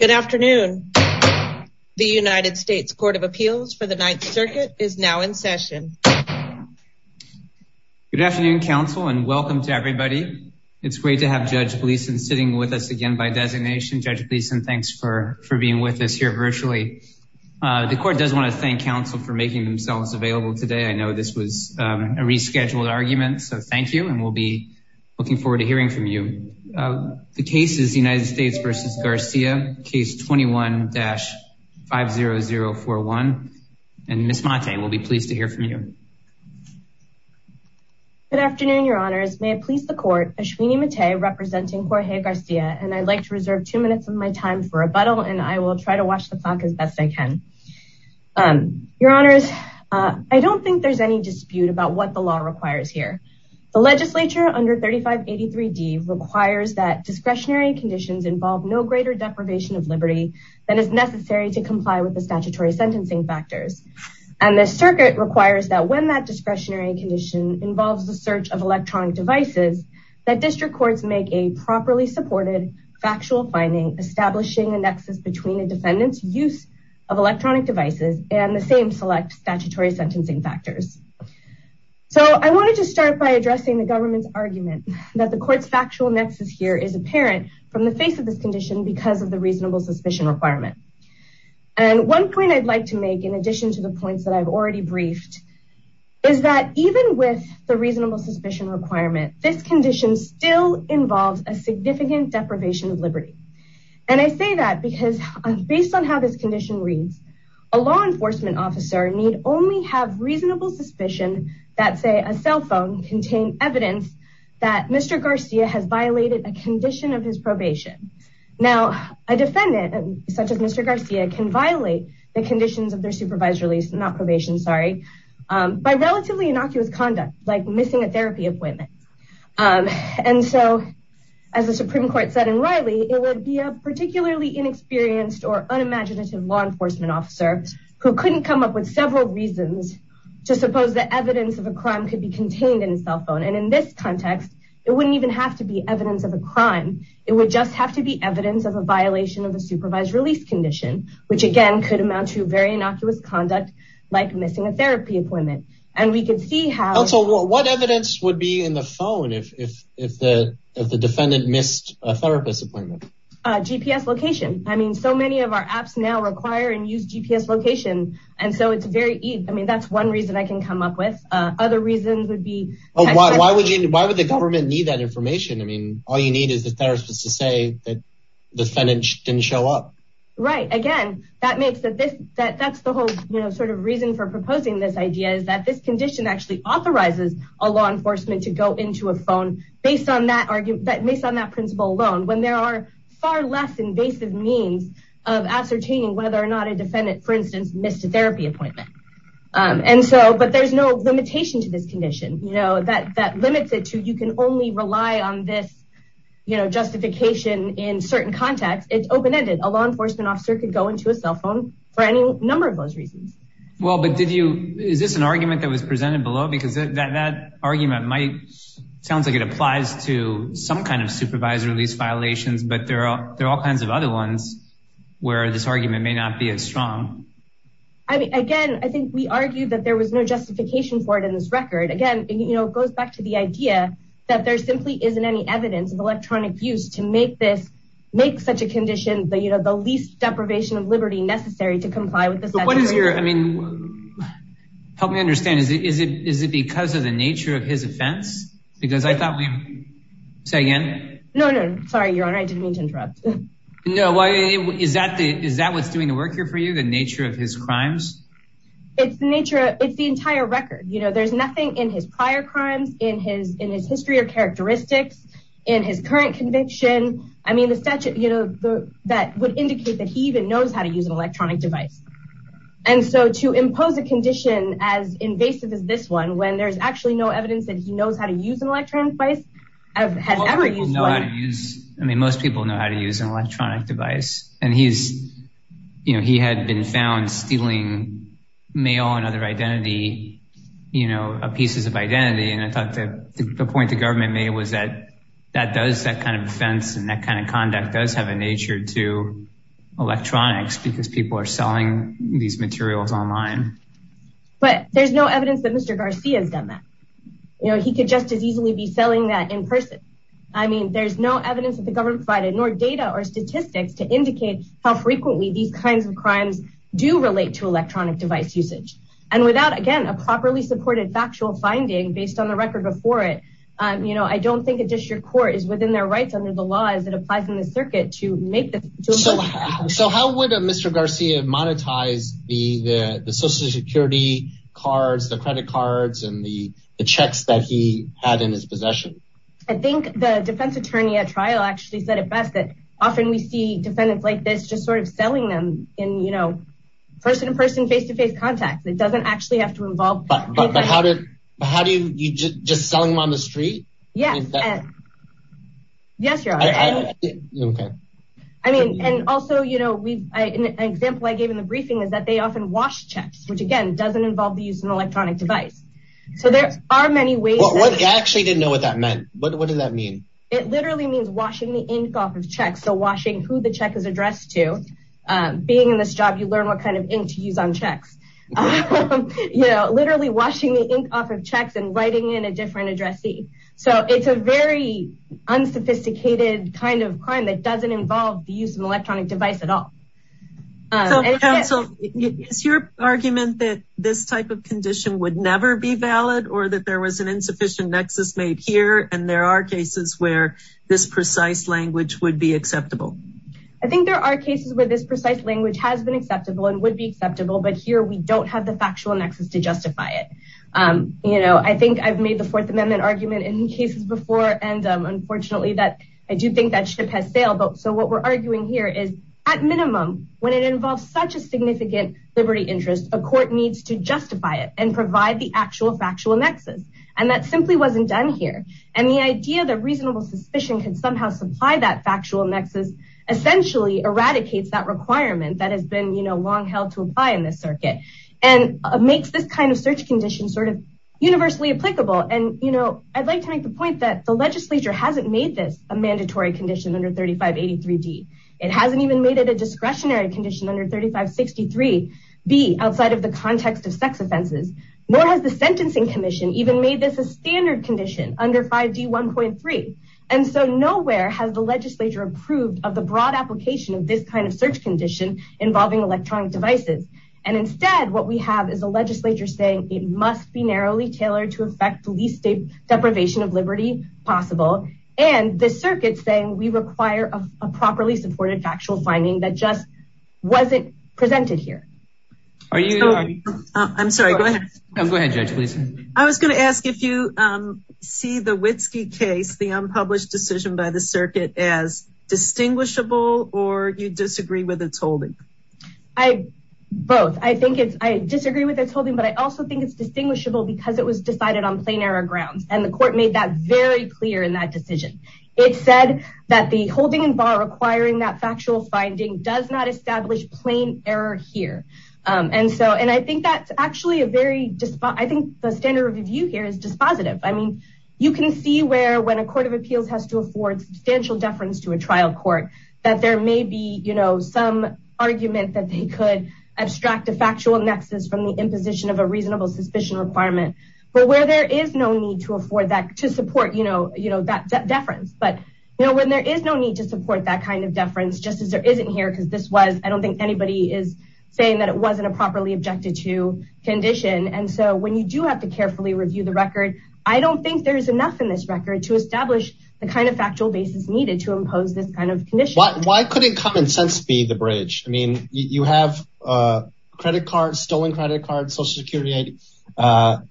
Good afternoon. The United States Court of Appeals for the Ninth Circuit is now in session. Good afternoon, counsel, and welcome to everybody. It's great to have Judge Gleason sitting with us again by designation. Judge Gleason, thanks for for being with us here virtually. The court does want to thank counsel for making themselves available today. I know this was a rescheduled argument, so thank you, and we'll be looking forward to hearing from you. The case is the United States v. Garcia, case 21-50041, and Ms. Mattei will be pleased to hear from you. Good afternoon, your honors. May it please the court, Ashwini Mattei representing Jorge Garcia, and I'd like to reserve two minutes of my time for rebuttal, and I will try to watch the clock as best I can. Your honors, I don't think there's any dispute about what the law requires here. The legislature under 3583D requires that discretionary conditions involve no greater deprivation of liberty than is necessary to comply with the statutory sentencing factors, and the circuit requires that when that discretionary condition involves the search of electronic devices, that district courts make a properly supported factual finding, establishing a nexus between a defendant's use of electronic devices and the same select statutory sentencing factors. So I wanted to start by addressing the government's argument that the court's factual nexus here is apparent from the face of this condition because of the reasonable suspicion requirement, and one point I'd like to make in addition to the points that I've already briefed is that even with the reasonable suspicion requirement, this condition still involves a significant deprivation of liberty, and I say that because based on how this condition reads, a law enforcement officer need only have reasonable suspicion that say a cell phone contain evidence that Mr. Garcia has violated a condition of his probation. Now a defendant such as Mr. Garcia can violate the conditions of their supervised release, not probation sorry, by relatively innocuous conduct like missing a therapy appointment, and so as the Supreme Court said in Riley, it would be a particularly inexperienced or unimaginative law enforcement officer who couldn't come up with several reasons to suppose that evidence of a crime could be contained in a cell phone, and in this context it wouldn't even have to be evidence of a crime, it would just have to be evidence of a violation of a supervised release condition, which again could amount to very innocuous conduct like missing a therapy appointment, and we could see how... So what evidence would be in the phone if the defendant missed a therapist appointment? GPS location, I mean so many of our apps now require and use GPS location, and so it's very easy, I mean that's one reason I can come up with, other reasons would be... Why would the government need that information? I mean all you need is the therapist to say that the defendant didn't show up. Right, again that makes that this, that's the whole you know reason for proposing this idea, is that this condition actually authorizes a law enforcement to go into a phone based on that argument, based on that principle alone, when there are far less invasive means of ascertaining whether or not a defendant for instance missed a therapy appointment, and so but there's no limitation to this condition, you know that that limits it to you can only rely on this you know justification in certain contexts, it's open-ended, a law Well but did you, is this an argument that was presented below? Because that argument might, sounds like it applies to some kind of supervisory lease violations, but there are there are all kinds of other ones where this argument may not be as strong. I mean again, I think we argued that there was no justification for it in this record, again you know it goes back to the idea that there simply isn't any evidence of electronic use to make this, make such a condition, but you know the least deprivation of liberty necessary to comply with this. What is your, I mean help me understand, is it is it because of the nature of his offense? Because I thought we, say again? No no sorry your honor, I didn't mean to interrupt. No why is that the, is that what's doing the work here for you, the nature of his crimes? It's the nature, it's the entire record, you know there's nothing in his prior crimes, in his in his history or characteristics, in his current conviction, I mean the statute you know the that would indicate that he even to use an electronic device. And so to impose a condition as invasive as this one, when there's actually no evidence that he knows how to use an electronic device, has ever used one. I mean most people know how to use an electronic device, and he's you know he had been found stealing mail and other identity, you know pieces of identity, and I thought that the point the government made was that that does that kind of offense, and that kind of conduct does have a because people are selling these materials online. But there's no evidence that Mr. Garcia's done that, you know he could just as easily be selling that in person. I mean there's no evidence that the government provided, nor data or statistics to indicate how frequently these kinds of crimes do relate to electronic device usage. And without again a properly supported factual finding based on the record before it, you know I don't think a district court is within their rights under the circuit to make this. So how would Mr. Garcia monetize the social security cards, the credit cards, and the checks that he had in his possession? I think the defense attorney at trial actually said it best that often we see defendants like this just sort of selling them in you know person to person, face-to-face contact. It doesn't actually have to involve. But how do you just sell them on the street? Yes, yes your honor. I mean and also you know we an example I gave in the briefing is that they often wash checks, which again doesn't involve the use of an electronic device. So there are many ways. I actually didn't know what that meant. What does that mean? It literally means washing the ink off of checks. So washing who the check is addressed to. Being in this job you learn what kind of ink to use on checks. You know literally washing the checks and writing in a different addressee. So it's a very unsophisticated kind of crime that doesn't involve the use of electronic device at all. So counsel is your argument that this type of condition would never be valid or that there was an insufficient nexus made here and there are cases where this precise language would be acceptable? I think there are cases where this precise language has been acceptable and would be acceptable. But here we don't have the factual nexus to justify it. You know I think I've made the fourth amendment argument in cases before and unfortunately that I do think that ship has sailed. But so what we're arguing here is at minimum when it involves such a significant liberty interest a court needs to justify it and provide the actual factual nexus. And that simply wasn't done here. And the idea that reasonable suspicion can somehow supply that factual nexus essentially eradicates that requirement that has been you know long held to apply in this circuit. And makes this kind of search condition sort of universally applicable. And you know I'd like to make the point that the legislature hasn't made this a mandatory condition under 3583d. It hasn't even made it a discretionary condition under 3563b outside of the context of sex offenses. Nor has the sentencing commission even made this a standard condition under 5d 1.3. And so nowhere has the legislature approved of the broad application of this kind of search condition involving electronic devices. And instead what we have is a legislature saying it must be narrowly tailored to affect the least deprivation of liberty possible. And the circuit saying we require a properly supported factual finding that just wasn't presented here. I'm sorry go ahead. Go ahead judge please. I was going to ask if you see the Witski case the unpublished decision by the I both I think it's I disagree with its holding. But I also think it's distinguishable because it was decided on plain error grounds. And the court made that very clear in that decision. It said that the holding in bar requiring that factual finding does not establish plain error here. And so and I think that's actually a very just I think the standard review here is dispositive. I mean you can see where when a court of appeals has to afford substantial deference to a trial court that there may be you know some argument that they could abstract a factual nexus from the imposition of a reasonable suspicion requirement. But where there is no need to afford that to support you know you know that deference. But you know when there is no need to support that kind of deference just as there isn't here because this was I don't think anybody is saying that it wasn't a properly objected to condition. And so when you do have to carefully review the record I don't think there is enough in this record to establish the kind of factual basis needed to impose this kind of condition. Why couldn't common sense be the bridge? I mean you have credit cards stolen credit cards social security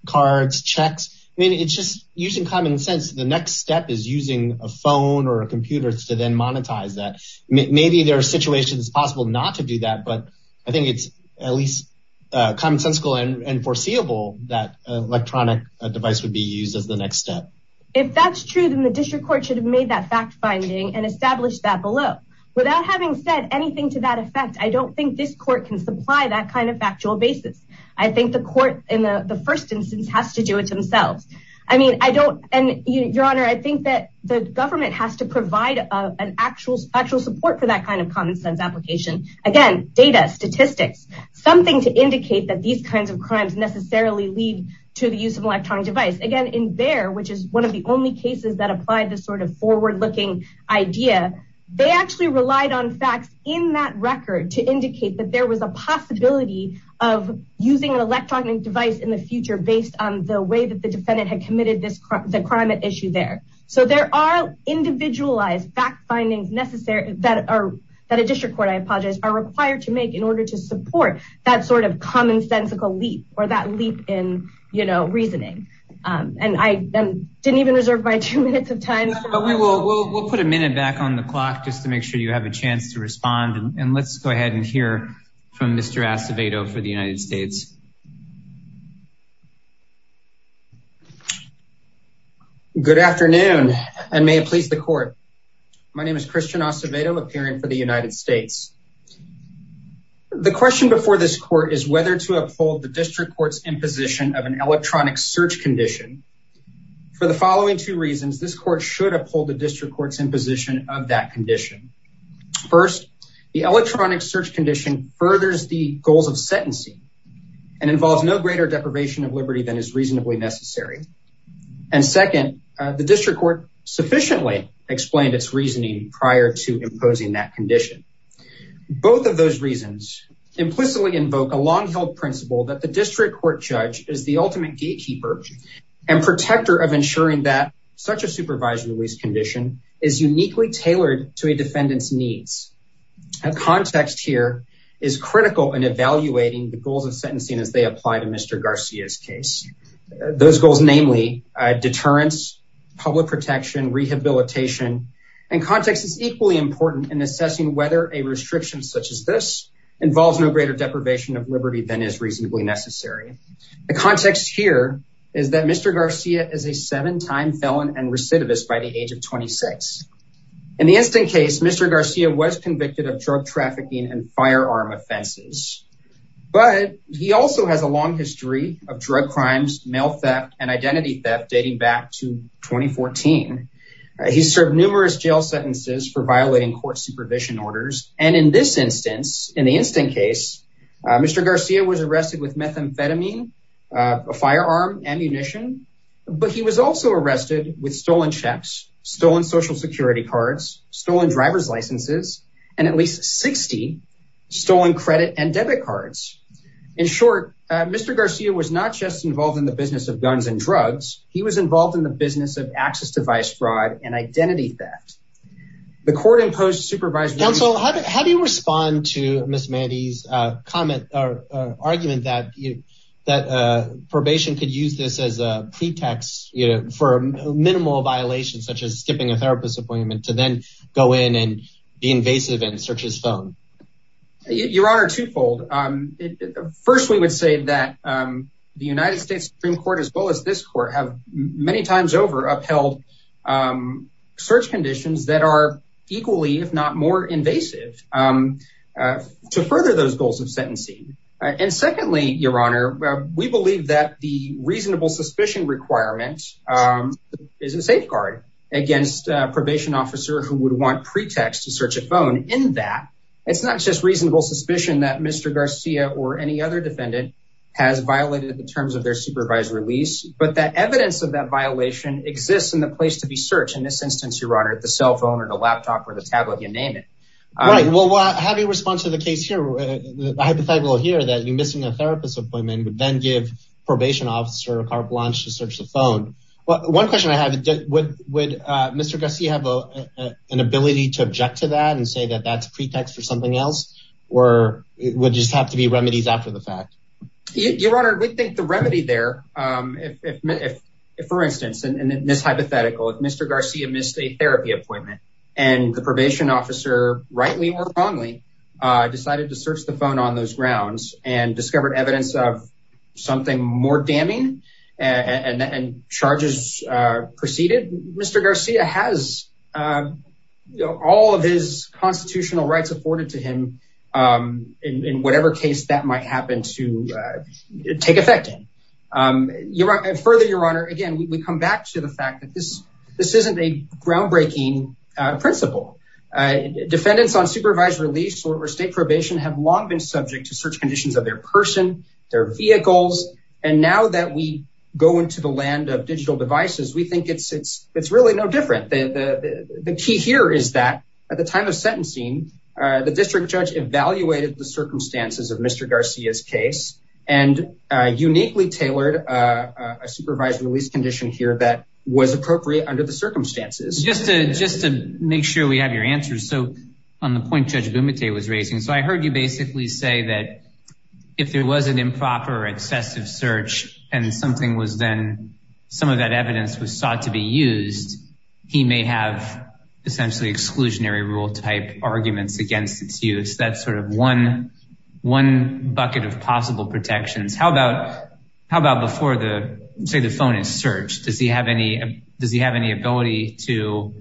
cards checks. I mean it's just using common sense the next step is using a phone or a computer to then monetize that. Maybe there are situations possible not to do that but I think it's at least commonsensical and foreseeable that electronic device would be used as the next step. If that's true then the district court should have made that fact finding and established that below. Without having said anything to that effect I don't think this court can supply that kind of factual basis. I think the court in the the first instance has to do it themselves. I mean I don't and your honor I think that the government has to provide an actual actual support for that kind of common sense application. Again data statistics something to indicate that these kinds of crimes necessarily lead to the use of electronic device. Again in the only cases that applied this sort of forward-looking idea they actually relied on facts in that record to indicate that there was a possibility of using an electronic device in the future based on the way that the defendant had committed this crime the crime at issue there. So there are individualized fact findings necessary that are that a district court I apologize are required to make in order to support that sort of commonsensical leap or that leap in you know my two minutes of time but we will we'll put a minute back on the clock just to make sure you have a chance to respond and let's go ahead and hear from Mr. Acevedo for the United States. Good afternoon and may it please the court my name is Christian Acevedo appearing for the United States. The question before this court is whether to uphold the district court's imposition of an two reasons this court should uphold the district court's imposition of that condition. First the electronic search condition furthers the goals of sentencing and involves no greater deprivation of liberty than is reasonably necessary and second the district court sufficiently explained its reasoning prior to imposing that condition. Both of those reasons implicitly invoke a long-held principle that the district court judge is the ultimate gatekeeper and protector of ensuring that such a supervised release condition is uniquely tailored to a defendant's needs. A context here is critical in evaluating the goals of sentencing as they apply to Mr. Garcia's case. Those goals namely deterrence, public protection, rehabilitation and context is equally important in assessing whether a restriction such as this involves no deprivation of liberty than is reasonably necessary. The context here is that Mr. Garcia is a seven-time felon and recidivist by the age of 26. In the instant case Mr. Garcia was convicted of drug trafficking and firearm offenses but he also has a long history of drug crimes, mail theft and identity theft dating back to 2014. He served numerous jail sentences for Mr. Garcia was arrested with methamphetamine, a firearm, ammunition but he was also arrested with stolen checks, stolen social security cards, stolen driver's licenses and at least 60 stolen credit and debit cards. In short Mr. Garcia was not just involved in the business of guns and drugs he was involved in the business of access device fraud and identity theft. The court imposed counsel how do you respond to Miss Mandy's comment or argument that you that probation could use this as a pretext you know for a minimal violation such as skipping a therapist appointment to then go in and be invasive and search his phone? Your honor twofold. First we would say that the United States Supreme Court as well as this court have many times over upheld search conditions that are equally if not more invasive to further those goals of sentencing and secondly your honor we believe that the reasonable suspicion requirement is a safeguard against a probation officer who would want pretext to search a phone in that it's not just reasonable suspicion that Mr. Garcia or any other defendant has violated the terms of their supervised release but that evidence of that violation exists in the place to be searched in this instance your honor the cell phone or the laptop or the tablet you name it. Right well how do you respond to the case here the hypothetical here that you missing a therapist appointment would then give probation officer a carte blanche to search the phone. One question I have would Mr. Garcia have an ability to object to that and say that that's pretext for something else or it would just have to be remedies after the fact? Your honor we think the remedy there if for instance in this hypothetical if Mr. Garcia missed a therapy appointment and the probation officer rightly or wrongly decided to search the phone on those grounds and discovered evidence of something more damning and charges preceded Mr. Garcia has you know all of his constitutional rights afforded to him in whatever case that might happen to take effect in. Further your honor again we come back to the fact that this this isn't a groundbreaking principle. Defendants on supervised release or state probation have long been subject to search conditions of their person their vehicles and now that we go into the land of the key here is that at the time of sentencing the district judge evaluated the circumstances of Mr. Garcia's case and uniquely tailored a supervised release condition here that was appropriate under the circumstances. Just to just to make sure we have your answers so on the point Judge Bumate was raising so I heard you basically say that if there was an improper excessive search and something was then some of that evidence was sought to be used he may have essentially exclusionary rule type arguments against its use that's sort of one one bucket of possible protections. How about how about before the say the phone is searched does he have any does he have any ability to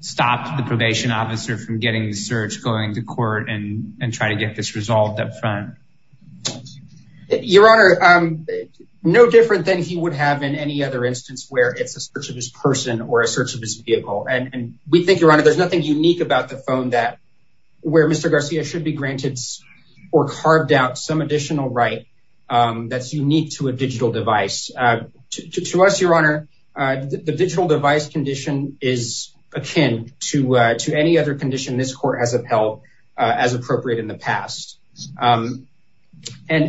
stop the probation officer from getting the search going to court and try to get this resolved up front? Your honor no different than he would have in any other instance where it's a search of his person or a search of his vehicle and we think your honor there's nothing unique about the phone that where Mr. Garcia should be granted or carved out some additional right that's unique to a digital device. To us your honor the digital device condition is akin to to any other condition this court has upheld as appropriate in the past. And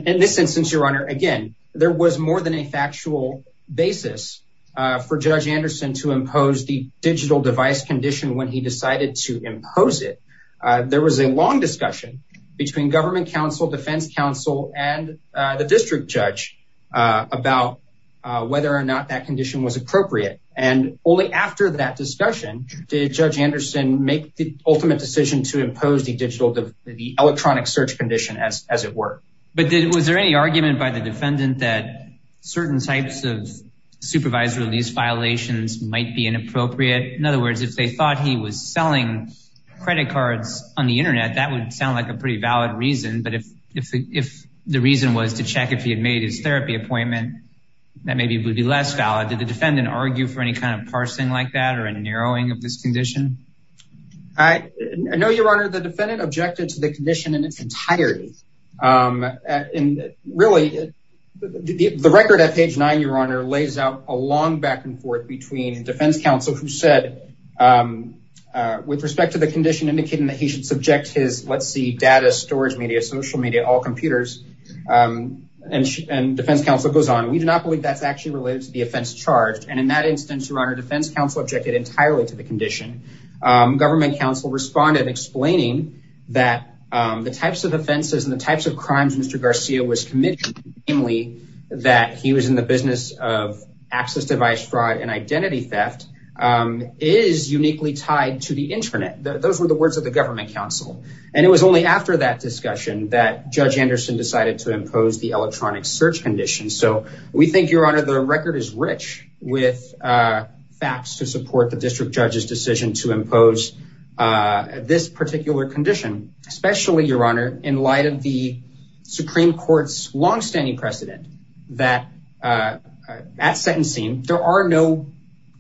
in this instance your honor again there was more than a factual basis for Judge Anderson to impose the digital device condition when he decided to impose it. There was a long discussion between government counsel defense counsel and the district judge about whether or not that after that discussion did Judge Anderson make the ultimate decision to impose the digital the electronic search condition as as it were. But did was there any argument by the defendant that certain types of supervised release violations might be inappropriate in other words if they thought he was selling credit cards on the internet that would sound like a pretty valid reason but if if if the reason was to check if he had made his therapy appointment that maybe would be less valid did the defendant argue for any kind of parsing like that or a narrowing of this condition? I know your honor the defendant objected to the condition in its entirety. And really the record at page nine your honor lays out a long back and forth between defense counsel who said with respect to the condition indicating that he should subject his let's see data storage media social media all computers and defense counsel goes on we do not believe that's actually related to the offense charged and in that instance your honor defense counsel objected entirely to the condition. Government counsel responded explaining that the types of offenses and the types of crimes Mr. Garcia was committed namely that he was in the business of access device fraud and identity theft is uniquely tied to the internet. Those were the words of the government counsel and it was only after that discussion that Judge Anderson decided to impose the electronic search condition. So we think your honor the record is rich with facts to support the district judge's decision to impose this particular condition especially your honor in light of the supreme court's long-standing precedent that at sentencing there are no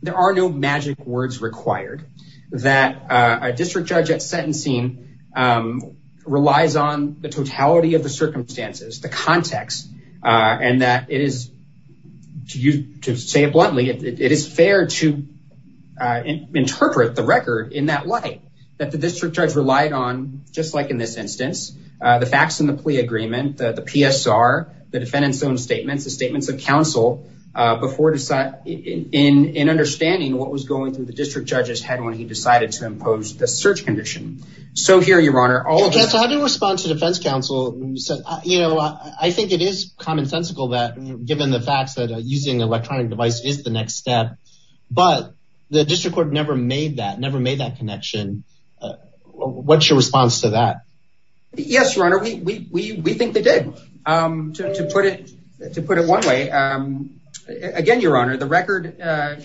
there are no magic words required that a district judge at sentencing relies on the totality of the circumstances the context and that it is to you to say it bluntly it is fair to interpret the record in that light that the district judge relied on just like in this instance the facts in the plea agreement the PSR the defendant's own statements the statements of counsel before deciding in understanding what was going through the district judge's head when he decided to impose the search condition so here your honor how do you respond to defense counsel you said you know i think it is commonsensical that given the facts that using electronic device is the next step but the district court never made that never made that connection what's your response to that yes your honor we we think they did um to put it to put it one way um again your honor the record uh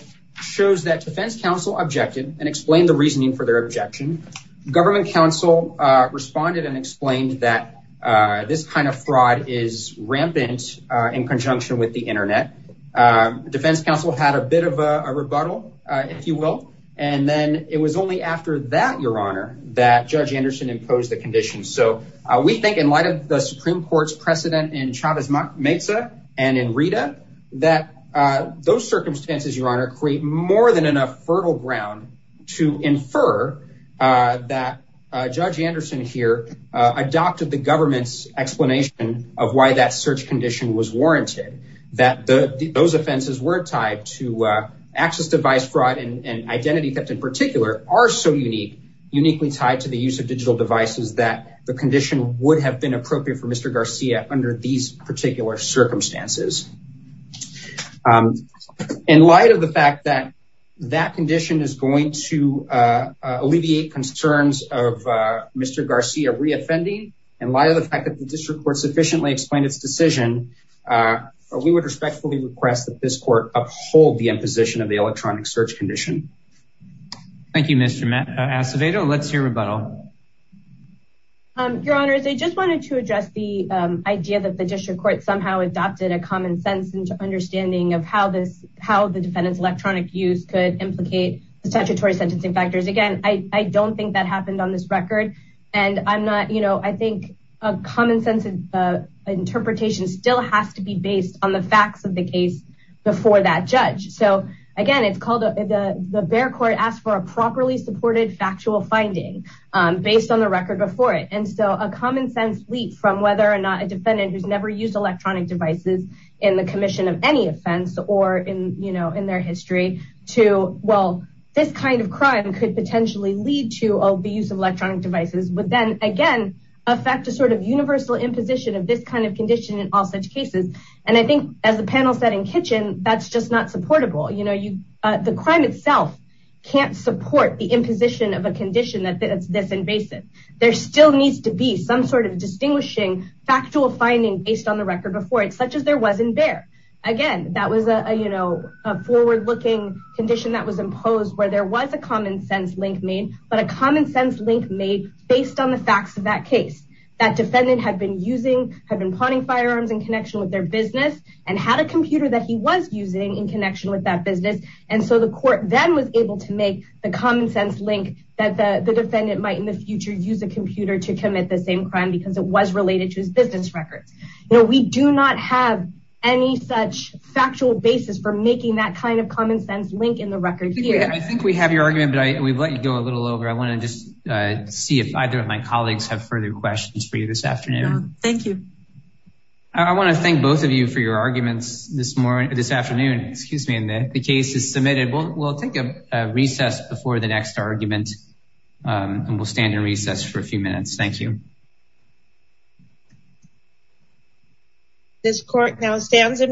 shows that defense counsel objected and explained the reasoning for their objection government counsel uh responded and explained that uh this kind of fraud is rampant uh in conjunction with the internet um defense counsel had a bit of a rebuttal uh if you will and then it was only after that your honor that judge anderson imposed the condition so we think in light of the supreme court's precedent in chavez mezza and in rita that uh those circumstances your honor create more than enough fertile ground to infer uh that uh judge anderson here uh adopted the government's explanation of why that search condition was warranted that the those offenses were tied to access device fraud and identity theft in particular are so unique uniquely tied to the use of digital devices that the condition would have been appropriate for mr garcia under these particular circumstances um in light of the fact that that condition is going to uh alleviate concerns of uh mr garcia reoffending in light of the fact that the district court sufficiently explained its decision uh we would respectfully request that this court uphold the imposition of the electronic search condition thank you mr acevedo let's hear rebuttal um your honors i just wanted to address the um idea that the district court somehow adopted a common sense understanding of how this how the defendant's electronic use could implicate the statutory sentencing factors again i i don't think that happened on this record and i'm not you know i think a common sense uh interpretation still has to be based on the facts of the case before that judge so again it's called the the bear court asked for a properly supported factual finding based on the record before it and so a common sense leap from whether or not a defendant who's never used electronic devices in the commission of any offense or in you know in their history to well this kind of crime could potentially lead to oh the use of electronic devices but then again affect a sort of universal imposition of this kind of condition in all such cases and i think as the panel said in kitchen that's just not supportable you know you uh the a condition that's this invasive there still needs to be some sort of distinguishing factual finding based on the record before it such as there wasn't there again that was a you know a forward-looking condition that was imposed where there was a common sense link made but a common sense link made based on the facts of that case that defendant had been using had been plotting firearms in connection with their business and had a computer that he was using in connection with that business and so the court then was able to make the common sense link that the defendant might in the future use a computer to commit the same crime because it was related to his business records you know we do not have any such factual basis for making that kind of common sense link in the record here i think we have your argument but i we've let you go a little over i want to just uh see if either of my colleagues have further questions for you this afternoon thank you i want to thank both of you for your arguments this this afternoon excuse me and the case is submitted we'll take a recess before the next argument and we'll stand in recess for a few minutes thank you this court now stands in recess